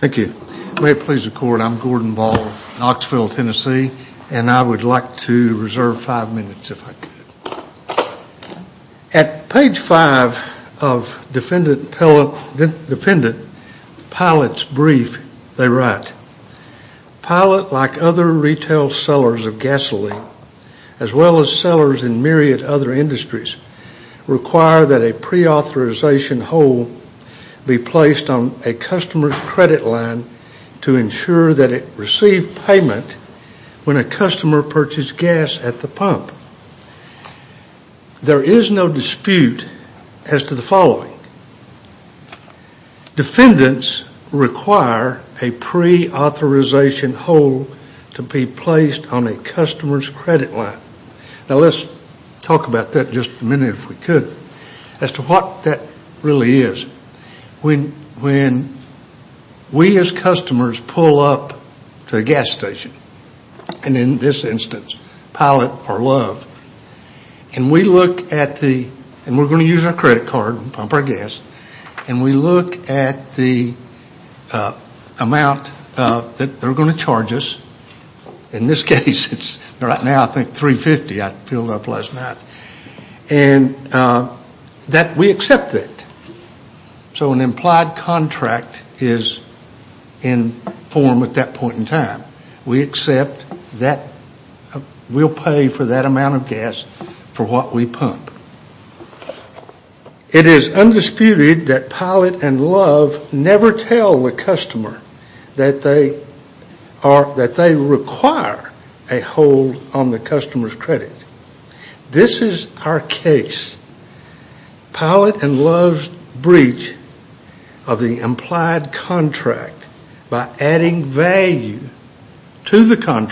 Thank you. May it please the court, I'm Gordon Ball, Knoxville, Tennessee, and I would like to reserve five minutes if I could. At page five of defendant pilot's brief, they write, Pilot like other retail sellers of gasoline as well as sellers in myriad other industries require that a preauthorization hold be placed on a customer's credit line to ensure that they receive payment when a customer purchases gas at the pump. There is no dispute as to the following. Defendants require a preauthorization hold to be placed on a customer's credit line. Now let's talk about that in just a minute if we could, as to what that really is. When we as customers pull up to a gas station, and in this instance, Pilot or Love, and we look at the, and we're going to use our credit card, pump our gas, and we look at the amount that they're going to charge us, in this case, it's right now I think 350 I filled up last night, and that we accept it. So an implied contract is in form at that point in time. We accept that we'll pay for that amount of gas for what we pump. It is undisputed that Pilot and Love never tell the customer that they are, that they require a hold on the customer's credit. This is our case. Pilot and Love's breach of the implied contract by adding value to the Pilot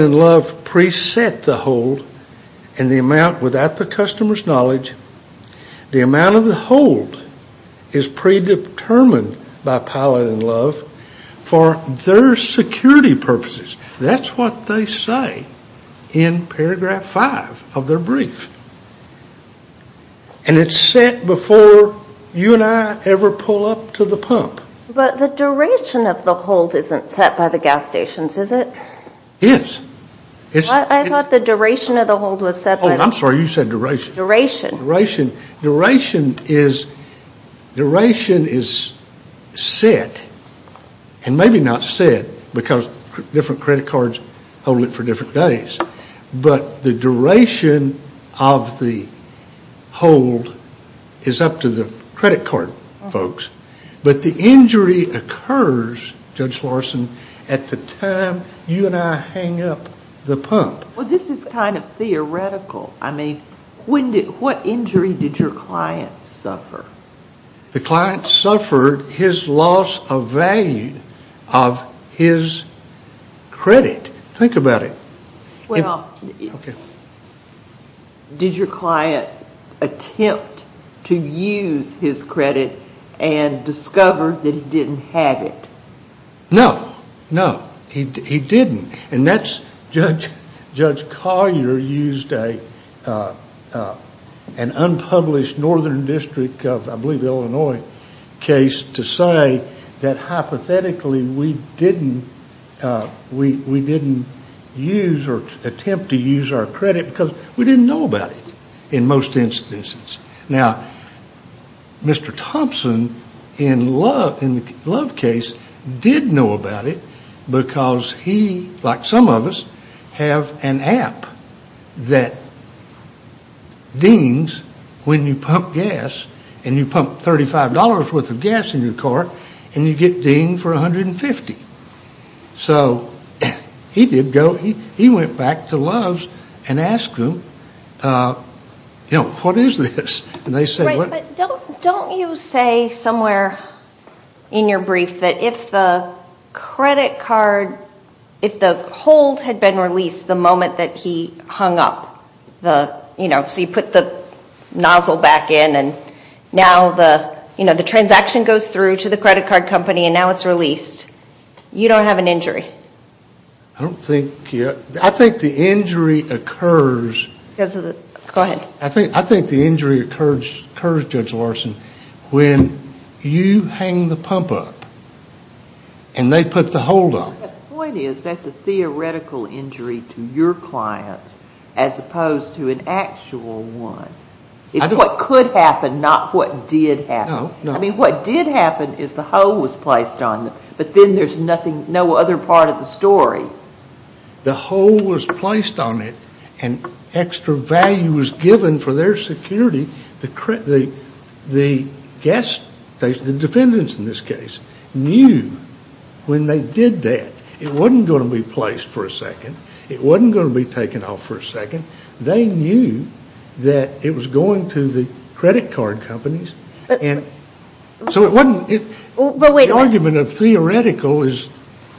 and Love preset the hold in the amount without the customer's knowledge. The amount of the hold is predetermined by Pilot and Love for their security purposes. That's what they say in paragraph five of their brief. And it's set before you and I ever pull up to the pump. But the duration of the hold isn't set by the gas stations, is it? Yes. I thought the duration of the hold was set by the- Oh, I'm sorry, you said duration. Duration. Duration. Duration is set, and maybe not set because different credit cards hold it for different days, but the duration of the injury occurs, Judge Larson, at the time you and I hang up the pump. Well, this is kind of theoretical. I mean, what injury did your client suffer? The client suffered his loss of value of his credit. Think about it. Well, did your client attempt to use his credit and discover that he didn't have it? No, no, he didn't. And Judge Collier used an unpublished northern district of, I believe, Illinois case to say that hypothetically we didn't use or attempt to use our credit because we didn't know about it in most instances. Now, Mr. Thompson in the Love case did know about it because he, like some of us, have an app that dings when you pump gas in your car, and you get dinged for $150. So he did go, he went back to Love's and asked them, you know, what is this? Right, but don't you say somewhere in your brief that if the credit card, if the hold had been released the moment that he hung up, you know, so you put the nozzle back in and now the, you know, the transaction goes through to the credit card company and now it's released, you don't have an injury? I don't think, I think the injury occurs. Because of the, go ahead. I think the injury occurs, Judge Larson, when you hang the pump up and they put the hold on it. The point is that's a theoretical injury to your clients as opposed to an actual one. It's what could happen, not what did happen. I mean, what did happen is the hold was placed on them, but then there's nothing, no other part of the story. The hold was placed on it and extra value was given for their security. The gas station, the defendants in this case, knew when they did that it wasn't going to be placed for a second. It wasn't going to be taken off for a second. They knew that it was going to the credit card companies and so it wasn't, the argument of theoretical is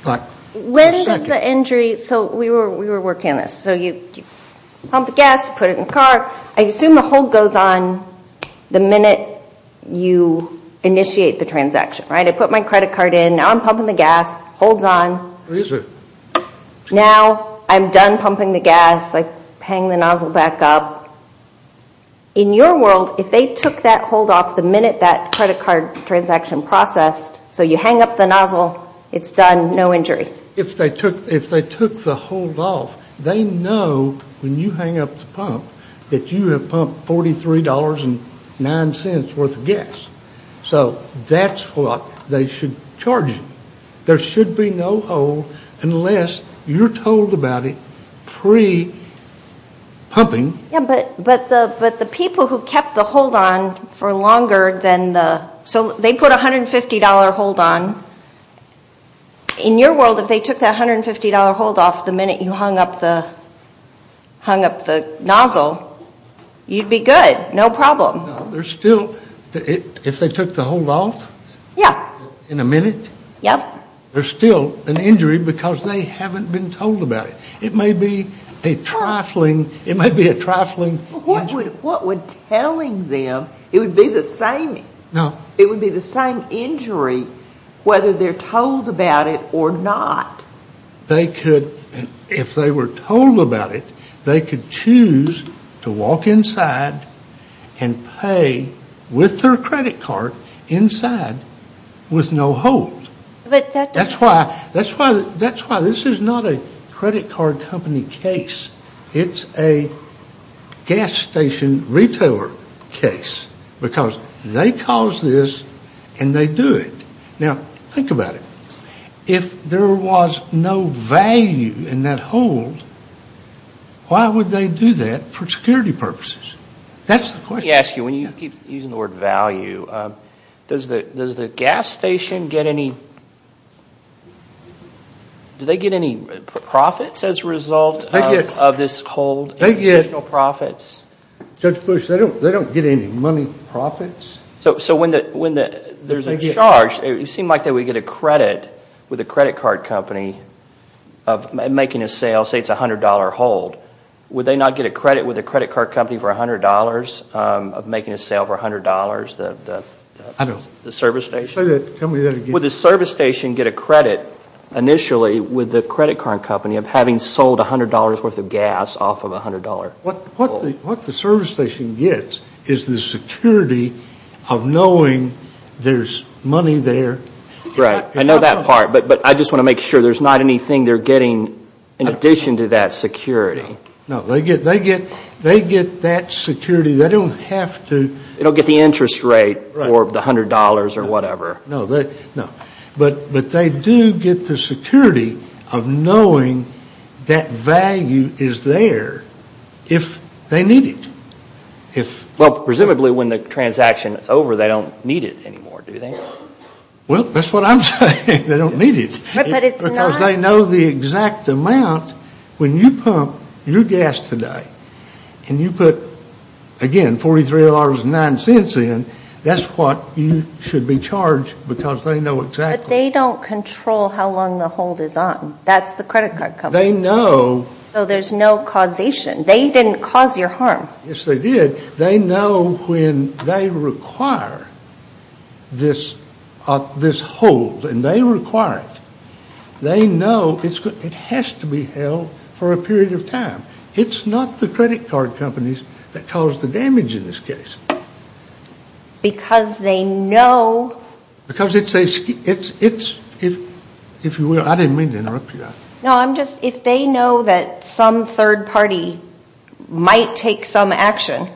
like for a second. When does the injury, so we were working on this, so you pump the gas, put it in the car. I assume the hold goes on the minute you initiate the transaction, right? I put my credit card in, now I'm pumping the gas, hold's on. Is it? Now I'm done pumping the gas, I hang the nozzle back up. In your world, if they took that hold off the minute that credit card transaction processed, so you hang up the nozzle, it's done, no injury. If they took the hold off, they know when you hang up the pump that you have pumped $43.09 worth of gas. So that's what they should charge you. There should be no hold unless you're told about it pre-pumping. But the people who kept the hold on for longer than the, so they put a $150 hold on. In your world, if they took that $150 hold off the minute you hung up the nozzle, you'd be good, no problem. There's still, if they took the hold off in a minute, there's still an injury because they haven't been told about it. It may be a trifling, it may be a trifling injury. What would telling them, it would be the same, it would be the same injury whether they're told about it or not. They could, if they were told about it, they could choose to walk inside and pay with their credit card inside with no hold. That's why, that's why this is not a credit card company case. It's a gas station retailer case because they cause this and they do it. Now, think about it. If there was no value in that hold, why would they do that for security purposes? That's the question. Let me ask you, when you keep using the word value, does the gas station get any, do they get any profits as a result of this hold, additional profits? Judge Bush, they don't get any money profits. So when there's a charge, it would seem like they would get a credit with a credit card company of making a sale, say it's a $100 hold. Would they not get a credit with a credit card company for $100 of making a sale for $100, the service station? Would the service station get a credit initially with the credit card company of having sold $100 worth of gas off of a $100 hold? What the service station gets is the security of knowing there's money there. Right. I know that part, but I just want to make sure there's not anything they're getting in addition to that security. No, they get that security. They don't have to. They don't get the interest rate or the $100 or whatever. No, but they do get the security of knowing that value is there if they need it. Well, presumably when the transaction is over, they don't need it anymore, do they? Well, that's what I'm saying. They don't need it because they know the exact amount. When you pump your gas today and you put, again, $43.09 in, that's what you should be charged because they know exactly. But they don't control how long the hold is on. That's the credit card company. They know. So there's no causation. They didn't cause your harm. Yes, they did. They know when they require this hold, and they require it. They know it has to be held for a period of time. It's not the credit card companies that cause the damage in this case. Because they know. Because it's, if you will, I didn't mean to interrupt you. No, I'm just, if they know that some third party might take some action,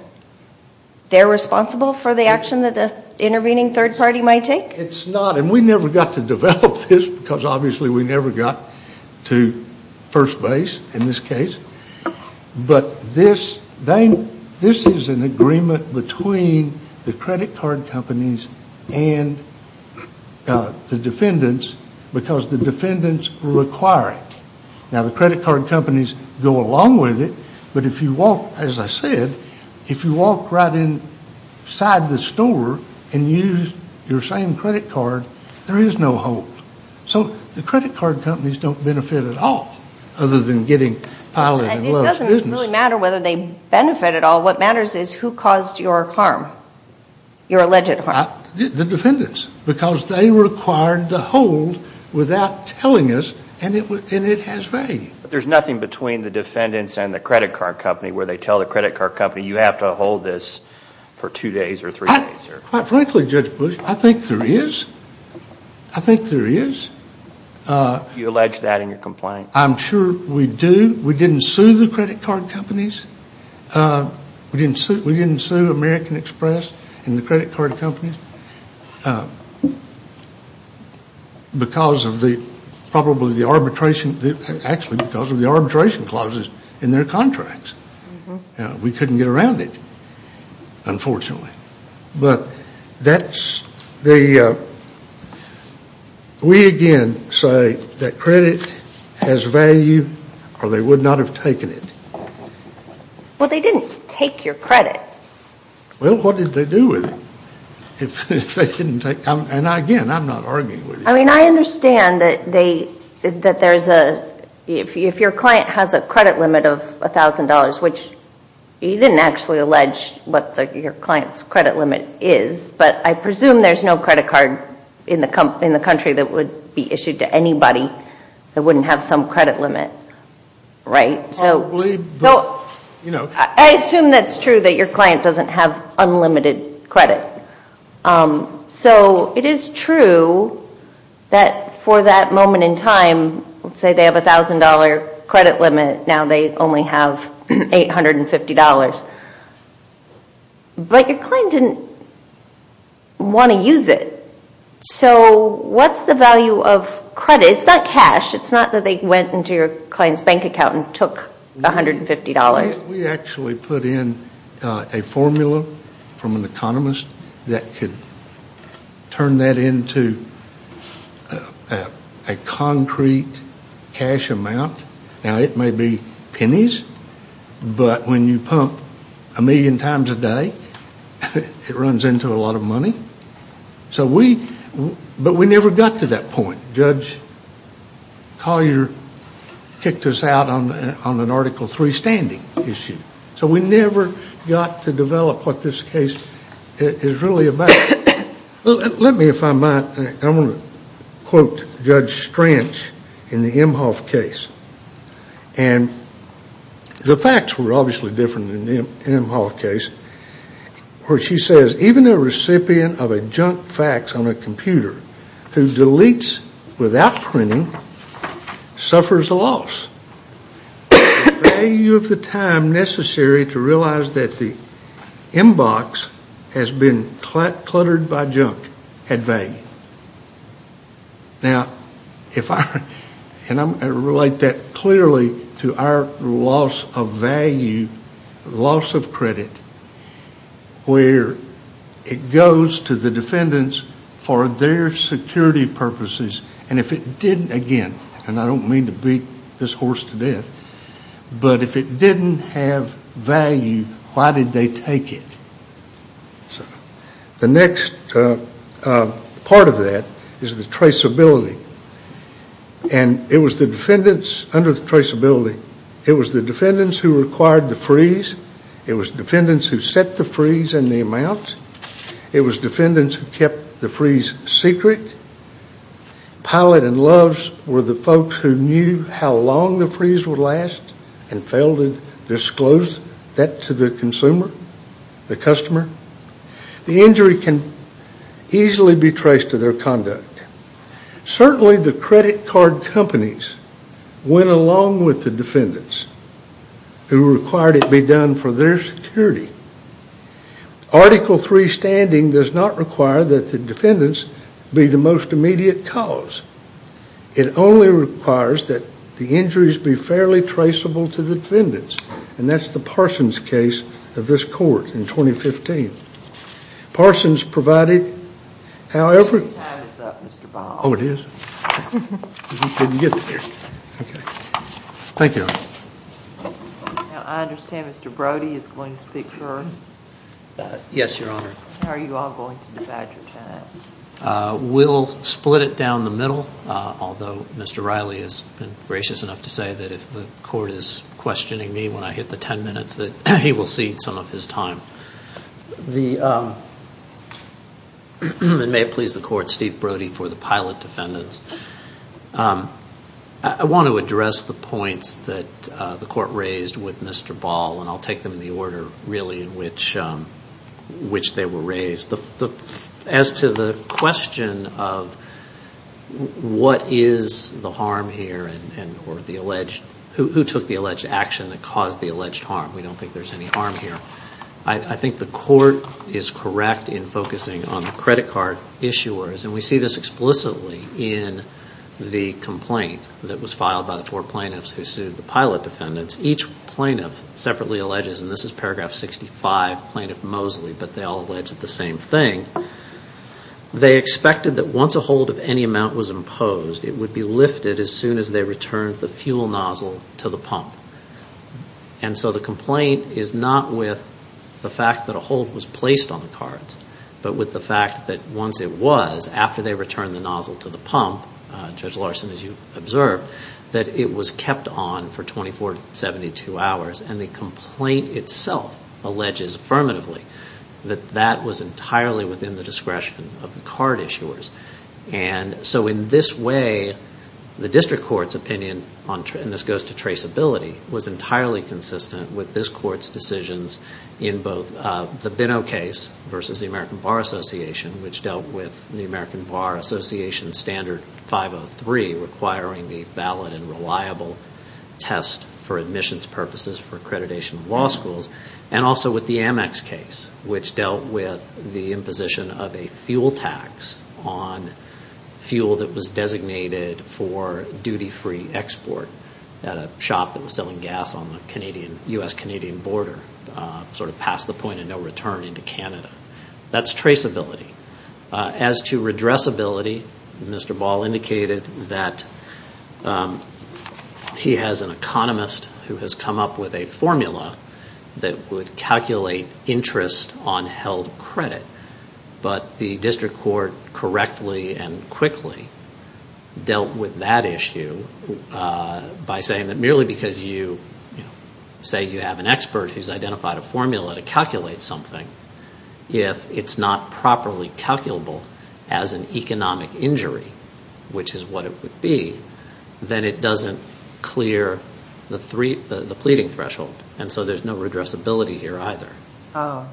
they're responsible for the action that the intervening third party might take? It's not, and we never got to develop this because obviously we never got to first base in this case. But this, this is an agreement between the credit card companies and the defendants because the defendants require it. Now the credit card companies go along with it, but if you walk, as I said, if you walk right inside the store and use your same credit card, there is no hold. So the credit card companies don't benefit at all other than getting piled in and lost business. And it doesn't really matter whether they benefit at all. What matters is who caused your harm, your alleged harm. The defendants, because they required the hold without telling us and it has value. There's nothing between the defendants and the credit card company where they tell the credit card company you have to hold this for two days or three days? Quite frankly, Judge Bush, I think there is. I think there is. You allege that in your complaint? I'm sure we do. We didn't sue the credit card companies. We didn't sue American Express and the credit card companies because of the, probably the arbitration, actually because of the arbitration clauses in their contracts. We couldn't get around it, unfortunately. But that's the, we again say that credit has value or they would not have taken it. Well, they didn't take your credit. Well, what did they do with it? If they didn't take, and again, I'm not arguing with you. I mean, I understand that they, that there's a, if your client has a credit limit of $1,000, which you didn't actually allege what your client's credit limit is, but I presume there's no credit card in the country that would be issued to anybody that wouldn't have some credit limit, right? So, I assume that's true that your client doesn't have unlimited credit. So, it is true that for that moment in time, let's say they have a $1,000 credit limit, now they only have $850, but your client didn't want to use it. So, what's the value of credit? It's not cash. It's not that they went into your client's bank account and took $150. We actually put in a formula from an economist that could turn that into a concrete cash amount. Now, it may be pennies, but when you pump a million times a day, it runs into a lot of money. So, we, but we never got to that point. Judge Collier kicked us out on an Article III standing issue. So, we never got to develop what this case is really about. Let me, if I might, I want to quote Judge Stranch in the Emhoff case. And the facts were obviously different in the Emhoff case where she says, even a recipient of a junk fax on a computer who deletes without printing suffers a loss. The value of the time necessary to realize that the inbox has been cluttered by junk had value. Now, if I, and I relate that clearly to our loss of value, loss of credit, where it goes to the defendants for their security purposes. And if it didn't, again, and I don't mean to beat this horse to death, but if it didn't have value, why did they take it? The next part of that is the traceability. And it was the defendants under the traceability, it was the defendants who required the freeze. It was defendants who set the freeze and the amount. It was defendants who kept the freeze secret. Pilot and Loves were the folks who knew how long the freeze would last and failed to disclose that to the consumer, the customer. The injury can easily be traced to their conduct. Certainly, the credit card companies went along with the defendants who required it be done for their security. Article III standing does not require that the defendants be the most immediate cause. It only requires that the injuries be fairly traceable to the defendants. And that's the Parsons case of this court in 2015. Parsons provided, however. Time is up, Mr. Baum. Oh, it is? I didn't get there. Okay. Thank you. Now, I understand Mr. Brody is going to speak first. Yes, Your Honor. How are you all going to divide your time? We'll split it down the middle, although Mr. Riley has been gracious enough to say that if the court is questioning me when I hit the 10 minutes, that he will cede some of his time. It may please the court, Steve Brody for the pilot defendants. I want to address the points that the court raised with Mr. Ball, and I'll take them in the order in which they were raised. As to the question of what is the harm here, or who took the alleged action that caused the alleged harm, we don't think there's any harm here. I think the court is correct in focusing on the credit card issuers, and we see this explicitly in the complaint that was filed by the four plaintiffs who sued the pilot defendants. Each plaintiff separately alleges, and this is paragraph 65, Plaintiff Mosley, but they all alleged the same thing. They expected that once a hold of any amount was imposed, it would be lifted as soon as they returned the fuel nozzle to the pump. And so the complaint is not with the fact that a hold was placed on the cards, but with the fact that once it was, after they returned the nozzle to the pump, Judge Larson, as you observed, that it was kept on for 24 to 72 hours, and the complaint itself alleges affirmatively that that was entirely within the discretion of the card issuers. And so in this way, the district court's opinion, and this goes to traceability, was entirely consistent with this court's decisions in both the Binno case versus the American Bar Association, which dealt with the American Bar Association standard 503, requiring the valid and reliable test for admissions purposes for accreditation of law schools, and also with the Amex case, which dealt with the imposition of a fuel tax on fuel that was designated for duty-free export at a shop that was selling gas on the U.S.-Canadian border, sort of past the point of no return into Canada. That's traceability. As to redressability, Mr. Ball indicated that he has an economist who has come up with a formula that would calculate interest on held credit, but the district court correctly and quickly dealt with that issue by saying that merely because you say you have an expert who's identified a formula to calculate something, if it's not properly calculable as an economic injury, which is what it would be, then it doesn't clear the pleading threshold, and so there's no redressability here either. I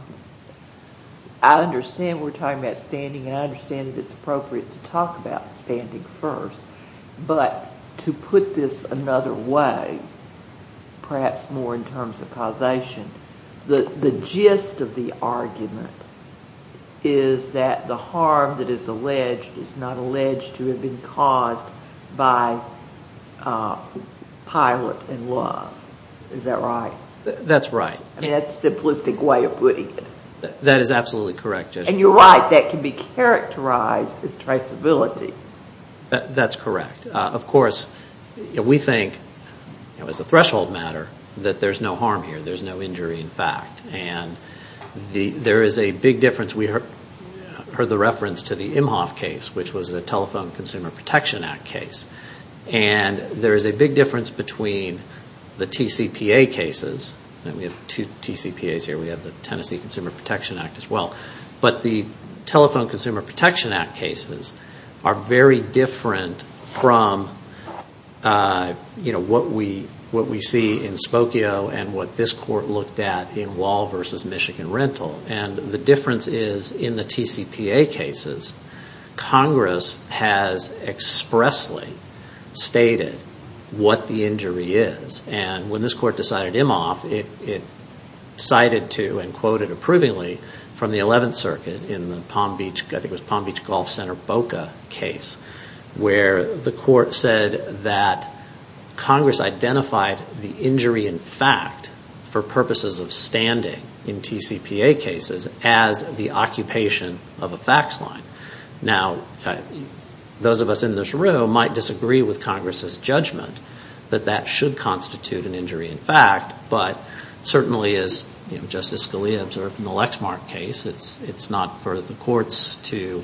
understand we're talking about standing, and I understand that it's appropriate to talk about standing first, but to put this another way, perhaps more in terms of causation, the gist of the argument is that the harm that is alleged is not alleged to have been caused by pilot and love. Is that right? That's right. That's a simplistic way of putting it. That is absolutely correct. And you're right, that can be characterized as traceability. That's correct. Of course, we think, as a threshold matter, that there's no harm here. There's no injury, in fact. And there is a big difference. We heard the reference to the Imhoff case, which was a Telephone Consumer Protection Act case, and there is a big difference between the TCPA cases. We have two TCPAs here. We have the Tennessee Consumer Protection Act as well. But the Telephone Consumer Protection Act cases are very different from what we see in Spokio and what this Court looked at in Wall v. Michigan Rental. And the difference is, in the TCPA cases, Congress has expressly stated what the injury is. And when this Court decided Imhoff, it cited to and quoted approvingly from the 11th Circuit in the Palm Beach, I think it was Palm Beach Golf Center BOCA case, where the Court said that Congress identified the injury in fact for purposes of standing in TCPA cases as the occupation of a fax line. Now, those of us in this room might disagree with Congress's judgment that that should constitute an injury in fact, but certainly, as Justice Scalia observed in the Lexmark case, it's not for the courts to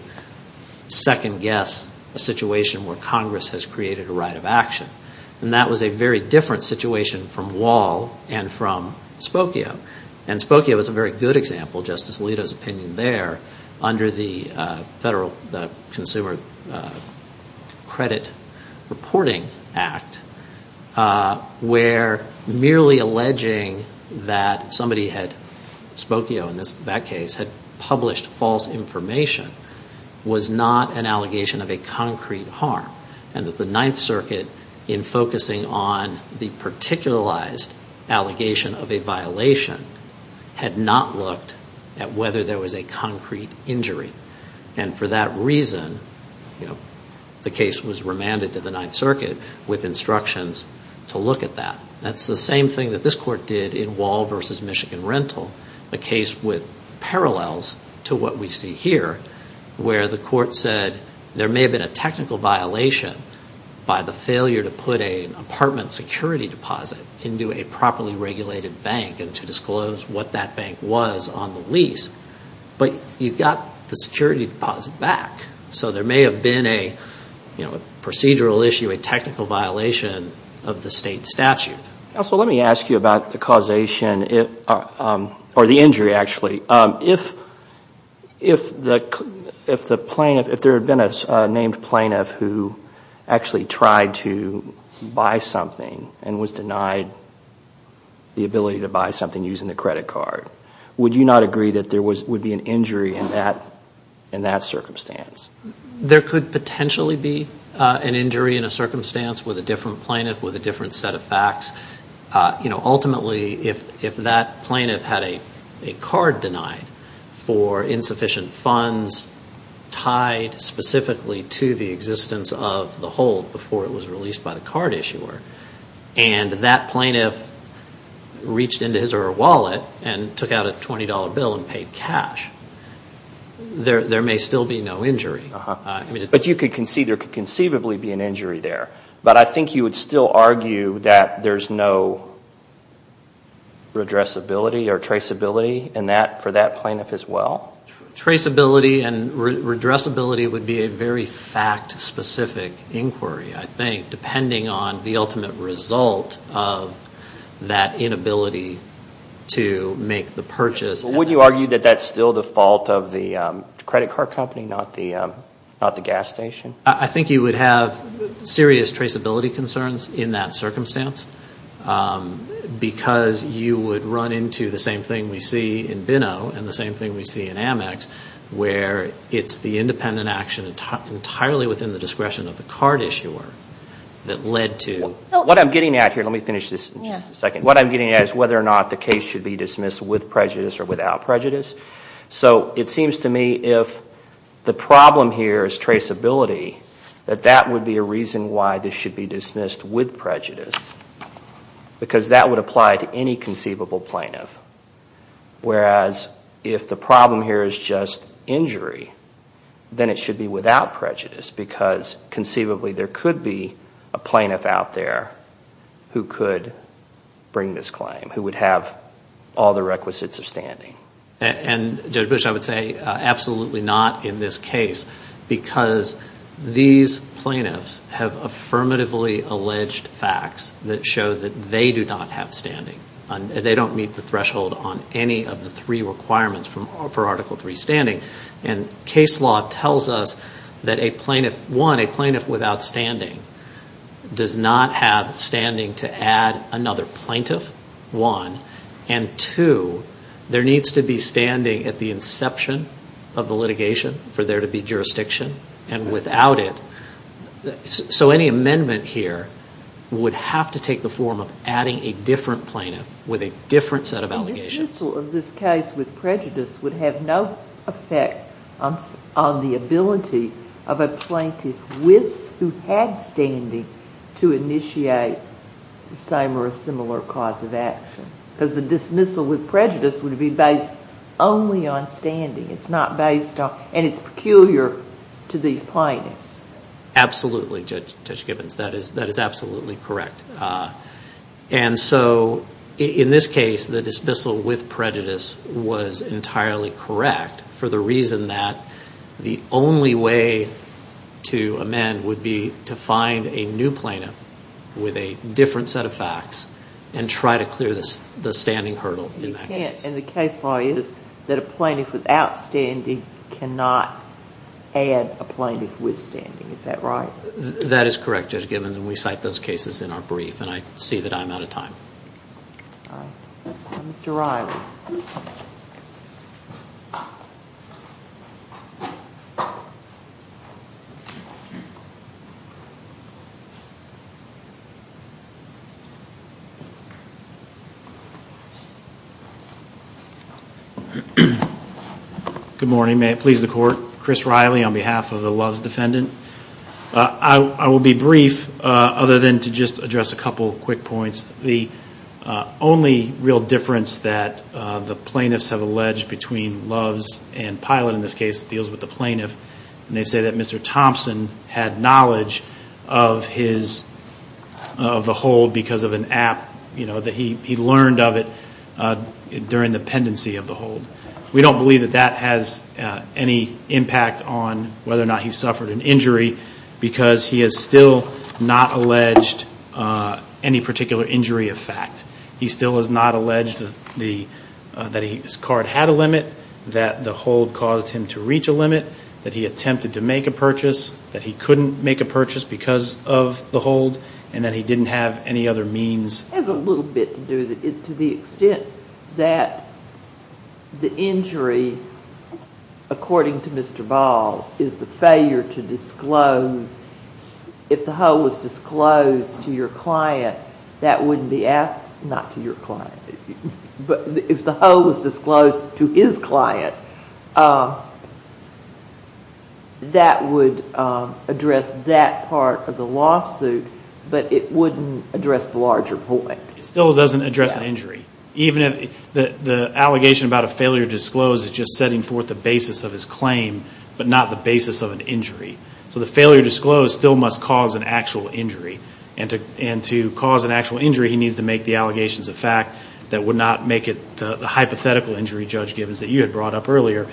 second-guess a situation where Congress has created a right of action. And that was a very different situation from Wall and from Spokio. And Spokio was a very good example, Justice Alito's opinion there, under the Federal Consumer Credit Reporting Act, where merely alleging that somebody had, Spokio in that case, had published false information, was not an allegation of a concrete harm. And that the 9th Circuit, in focusing on the particularized allegation of a violation, had not looked at whether there was a concrete injury. And for that reason, the case was remanded to the 9th Circuit with instructions to look at that. That's the same thing that this Court did in Wall v. Michigan Rental, a case with parallels to what we see here, where the Court said there may have been a technical violation by the failure to put an apartment security deposit into a properly regulated bank and to disclose what that bank was on the lease. But you got the security deposit back. So there may have been a procedural issue, a technical violation of the state statute. Counsel, let me ask you about the causation, or the injury, actually. If there had been a named plaintiff who actually tried to buy something and was denied the ability to buy something using the credit card, would you not agree that there would be an injury in that circumstance? There could potentially be an injury in a circumstance with a different plaintiff, with a different set of facts. Ultimately, if that plaintiff had a card denied for insufficient funds tied specifically to the existence of the hold before it was released by the card issuer, and that plaintiff reached into his or her wallet and took out a $20 bill and paid cash, there may still be no injury. But you could concede there could conceivably be an injury there. But I think you would still argue that there's no redressability or traceability for that plaintiff as well? Traceability and redressability would be a very fact-specific inquiry, I think, depending on the ultimate result of that inability to make the purchase. But would you argue that that's still the fault of the credit card company, not the gas station? I think you would have serious traceability concerns in that circumstance because you would run into the same thing we see in BINO and the same thing we see in Amex, where it's the independent action entirely within the discretion of the card issuer that led to... What I'm getting at here, let me finish this in just a second. What I'm getting at is whether or not the case should be dismissed with prejudice or without prejudice. So it seems to me if the problem here is traceability, that that would be a reason why this should be dismissed with prejudice because that would apply to any conceivable plaintiff. Whereas if the problem here is just injury, then it should be without prejudice because conceivably there could be a plaintiff out there who could bring this claim, who would have all the requisites of standing. And Judge Bush, I would say absolutely not in this case because these plaintiffs have affirmatively alleged facts that show that they do not have standing. They don't meet the threshold on any of the three requirements for Article III standing. And case law tells us that a plaintiff, one, a plaintiff without standing does not have standing to add another plaintiff, one. And two, there needs to be standing at the inception of the litigation for there to be jurisdiction. And without it... So any amendment here would have to take the form of adding a different plaintiff with a different set of allegations. The dismissal of this case with prejudice would have no effect on the ability of a plaintiff who had standing to initiate the same or a similar cause of action because the dismissal with prejudice would be based only on standing. It's not based on... and it's peculiar to these plaintiffs. Absolutely, Judge Gibbons. That is absolutely correct. And so in this case, the dismissal with prejudice was entirely correct for the reason that the only way to amend would be to find a new plaintiff with a different set of facts and try to clear the standing hurdle in that case. And the case law is that a plaintiff without standing cannot add a plaintiff with standing. Is that right? That is correct, Judge Gibbons, and we cite those cases in our brief, and I see that I'm out of time. All right. Mr. Riley. Good morning. May it please the Court. Chris Riley on behalf of the Loves Defendant. I will be brief other than to just address a couple of quick points. The only real difference that the plaintiffs have alleged between Loves and Pilot in this case deals with the plaintiff, and they say that Mr. Thompson had knowledge of the hold because of an app, that he learned of it during the pendency of the hold. We don't believe that that has any impact on whether or not he suffered an injury because he has still not alleged any particular injury of fact. He still has not alleged that his card had a limit, that the hold caused him to reach a limit, that he attempted to make a purchase, that he couldn't make a purchase because of the hold, and that he didn't have any other means. It has a little bit to do with it to the extent that the injury, according to Mr. Ball, is the failure to disclose. If the hold was disclosed to his client, that would address that part of the lawsuit. But it wouldn't address the larger point. It still doesn't address the injury. Even if the allegation about a failure to disclose is just setting forth the basis of his claim, but not the basis of an injury. So the failure to disclose still must cause an actual injury. And to cause an actual injury, he needs to make the allegations of fact that would not make it the hypothetical injury, Judge Gibbons, that you had brought up earlier.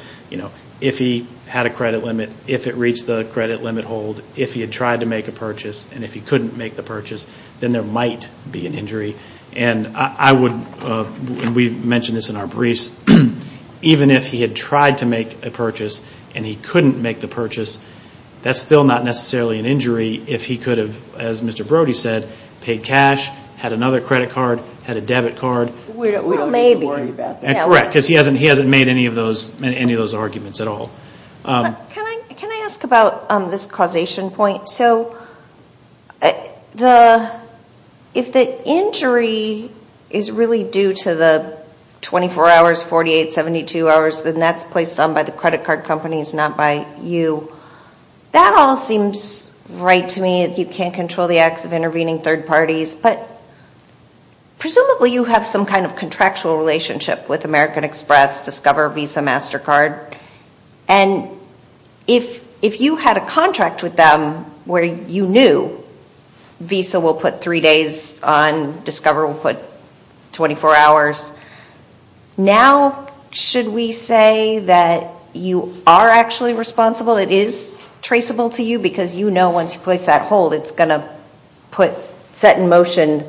If he had a credit limit, if it reached the credit limit hold, if he had tried to make a purchase, and if he couldn't make the purchase, then there might be an injury. And I would, and we've mentioned this in our briefs, even if he had tried to make a purchase and he couldn't make the purchase, that's still not necessarily an injury if he could have, as Mr. Brody said, paid cash, had another credit card, had a debit card. We don't need to worry about that. Correct, because he hasn't made any of those arguments at all. Can I ask about this causation point? So if the injury is really due to the 24 hours, 48, 72 hours, then that's placed on by the credit card companies, not by you. That all seems right to me if you can't control the acts of intervening third parties, but presumably you have some kind of contractual relationship with American Express, Discover, Visa, MasterCard. And if you had a contract with them where you knew Visa will put three days on, Discover will put 24 hours, now should we say that you are actually responsible? It is traceable to you because you know once you place that hold, it's going to set in motion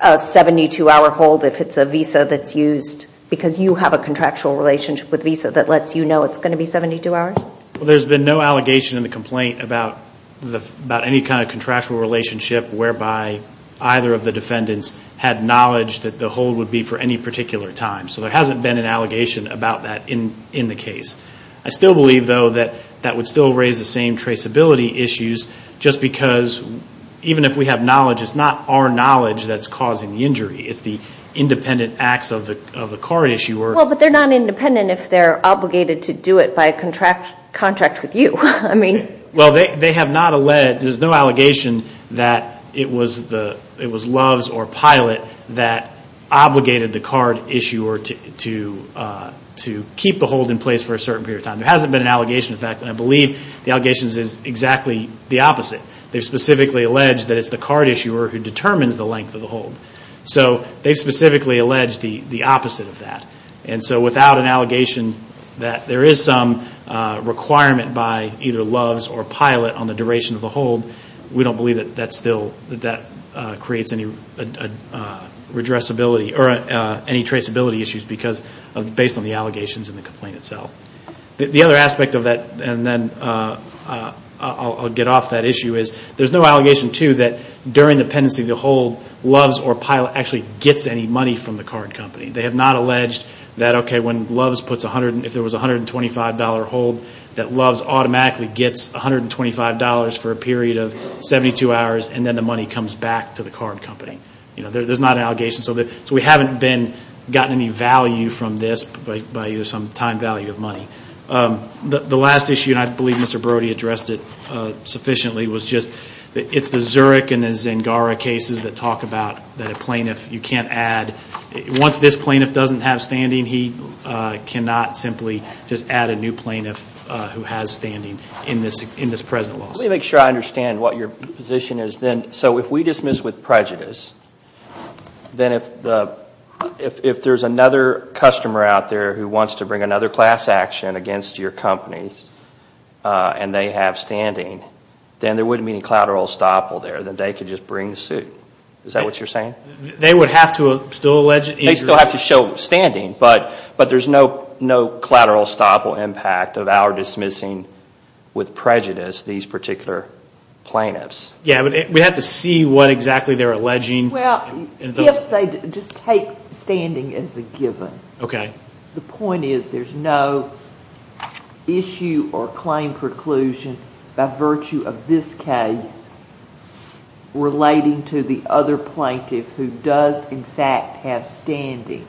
a 72-hour hold if it's a Visa that's used, because you have a contractual relationship with Visa that lets you know it's going to be 72 hours? Well, there's been no allegation in the complaint about any kind of contractual relationship whereby either of the defendants had knowledge that the hold would be for any particular time. So there hasn't been an allegation about that in the case. I still believe, though, that that would still raise the same traceability issues just because even if we have knowledge, it's not our knowledge that's causing the injury. It's the independent acts of the card issuer. Well, but they're not independent if they're obligated to do it by contract with you. Well, there's no allegation that it was Loves or Pilot that obligated the card issuer to keep the hold in place for a certain period of time. There hasn't been an allegation, in fact, and I believe the allegations is exactly the opposite. They specifically allege that it's the card issuer who determines the length of the hold. So they specifically allege the opposite of that. And so without an allegation that there is some requirement by either Loves or Pilot on the duration of the hold, we don't believe that that creates any traceability issues based on the allegations in the complaint itself. The other aspect of that, and then I'll get off that issue, is there's no allegation, too, that during the pendency, the hold, Loves or Pilot actually gets any money from the card company. They have not alleged that, okay, if there was a $125 hold, that Loves automatically gets $125 for a period of 72 hours, and then the money comes back to the card company. There's not an allegation. So we haven't gotten any value from this by some time value of money. The last issue, and I believe Mr. Brody addressed it sufficiently, was just it's the Zurich and the Zingara cases that talk about that a plaintiff, you can't add. Once this plaintiff doesn't have standing, he cannot simply just add a new plaintiff who has standing in this present lawsuit. Let me make sure I understand what your position is then. So if we dismiss with prejudice, then if there's another customer out there who wants to bring another class action against your company and they have standing, then there wouldn't be any collateral estoppel there. Then they could just bring the suit. Is that what you're saying? They would have to still allege it. They still have to show standing, but there's no collateral estoppel impact of our dismissing with prejudice these particular plaintiffs. Yeah, but we'd have to see what exactly they're alleging. Well, if they just take standing as a given. Okay. The point is there's no issue or claim preclusion by virtue of this case relating to the other plaintiff who does in fact have standing.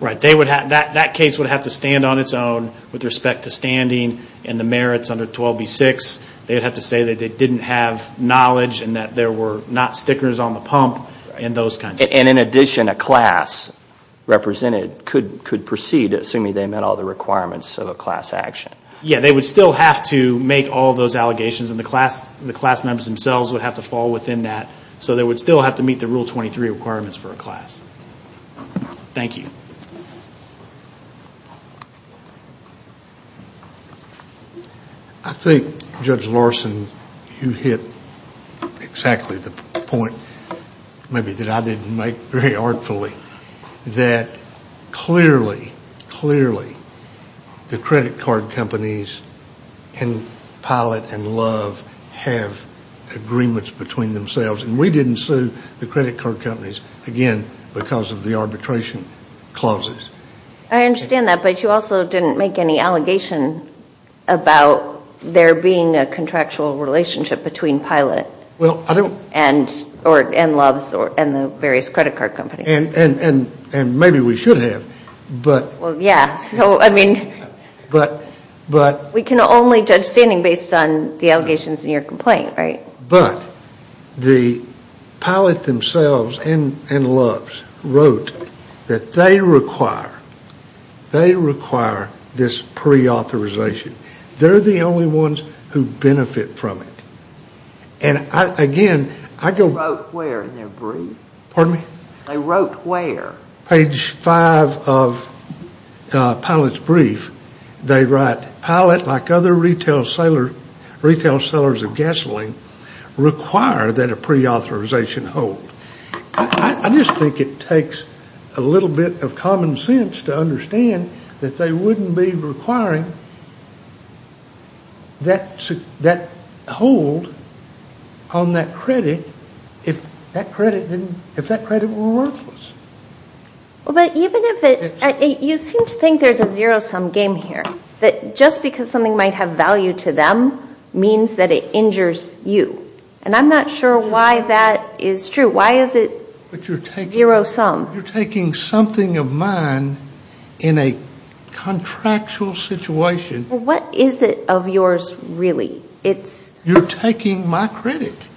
Right. That case would have to stand on its own with respect to standing and the merits under 12B6. They would have to say that they didn't have knowledge and that there were not stickers on the pump and those kinds of things. And in addition, a class represented could proceed assuming they met all the requirements of a class action. Yeah, they would still have to make all those allegations and the class members themselves would have to fall within that. So they would still have to meet the Rule 23 requirements for a class. Thank you. Thank you. I think, Judge Larson, you hit exactly the point maybe that I didn't make very artfully, that clearly, clearly the credit card companies in Pilate and Love have agreements between themselves. And we didn't sue the credit card companies, again, because of the arbitration clauses. I understand that. But you also didn't make any allegation about there being a contractual relationship between Pilate and Love and the various credit card companies. And maybe we should have. Well, yeah. We can only judge standing based on the allegations in your complaint, right? But the Pilate themselves and Love wrote that they require this pre-authorization. They're the only ones who benefit from it. And again, I go- They wrote where in their brief? Pardon me? They wrote where? Page five of Pilate's brief, they write, Pilate, like other retail sellers of gasoline, require that a pre-authorization hold. I just think it takes a little bit of common sense to understand that they wouldn't be requiring that hold on that credit if that credit were worthless. Well, but even if it- You seem to think there's a zero-sum game here, that just because something might have value to them means that it injures you. And I'm not sure why that is true. Why is it zero-sum? You're taking something of mine in a contractual situation. Well, what is it of yours, really? You're taking my credit.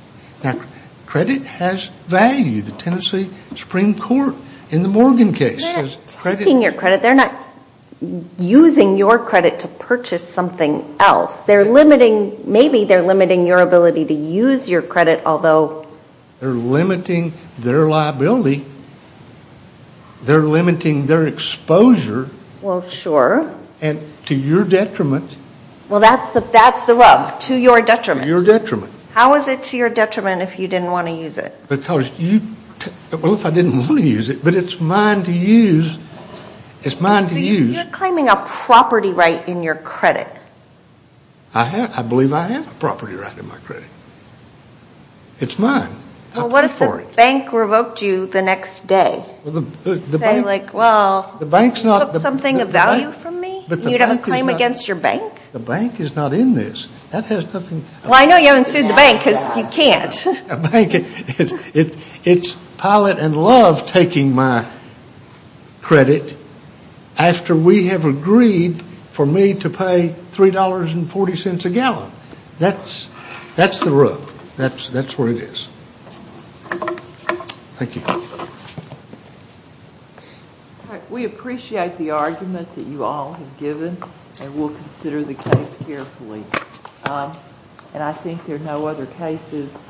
Now, credit has value. The Tennessee Supreme Court in the Morgan case says credit- They're not taking your credit. They're not using your credit to purchase something else. They're limiting- Maybe they're limiting your ability to use your credit, although- They're limiting their liability. They're limiting their exposure. Well, sure. Well, that's the rub. To your detriment. To your detriment. How is it to your detriment if you didn't want to use it? Because you- Well, if I didn't want to use it, but it's mine to use. It's mine to use. So you're claiming a property right in your credit. I believe I have a property right in my credit. It's mine. Well, what if the bank revoked you the next day? Saying, like, well, you took something of value from me? You'd have a claim against your bank? The bank is not in this. That has nothing- Well, I know you haven't sued the bank because you can't. It's pilot and love taking my credit after we have agreed for me to pay $3.40 a gallon. That's the rub. That's where it is. Thank you. We appreciate the argument that you all have given, and we'll consider the case carefully. And I think there are no other cases.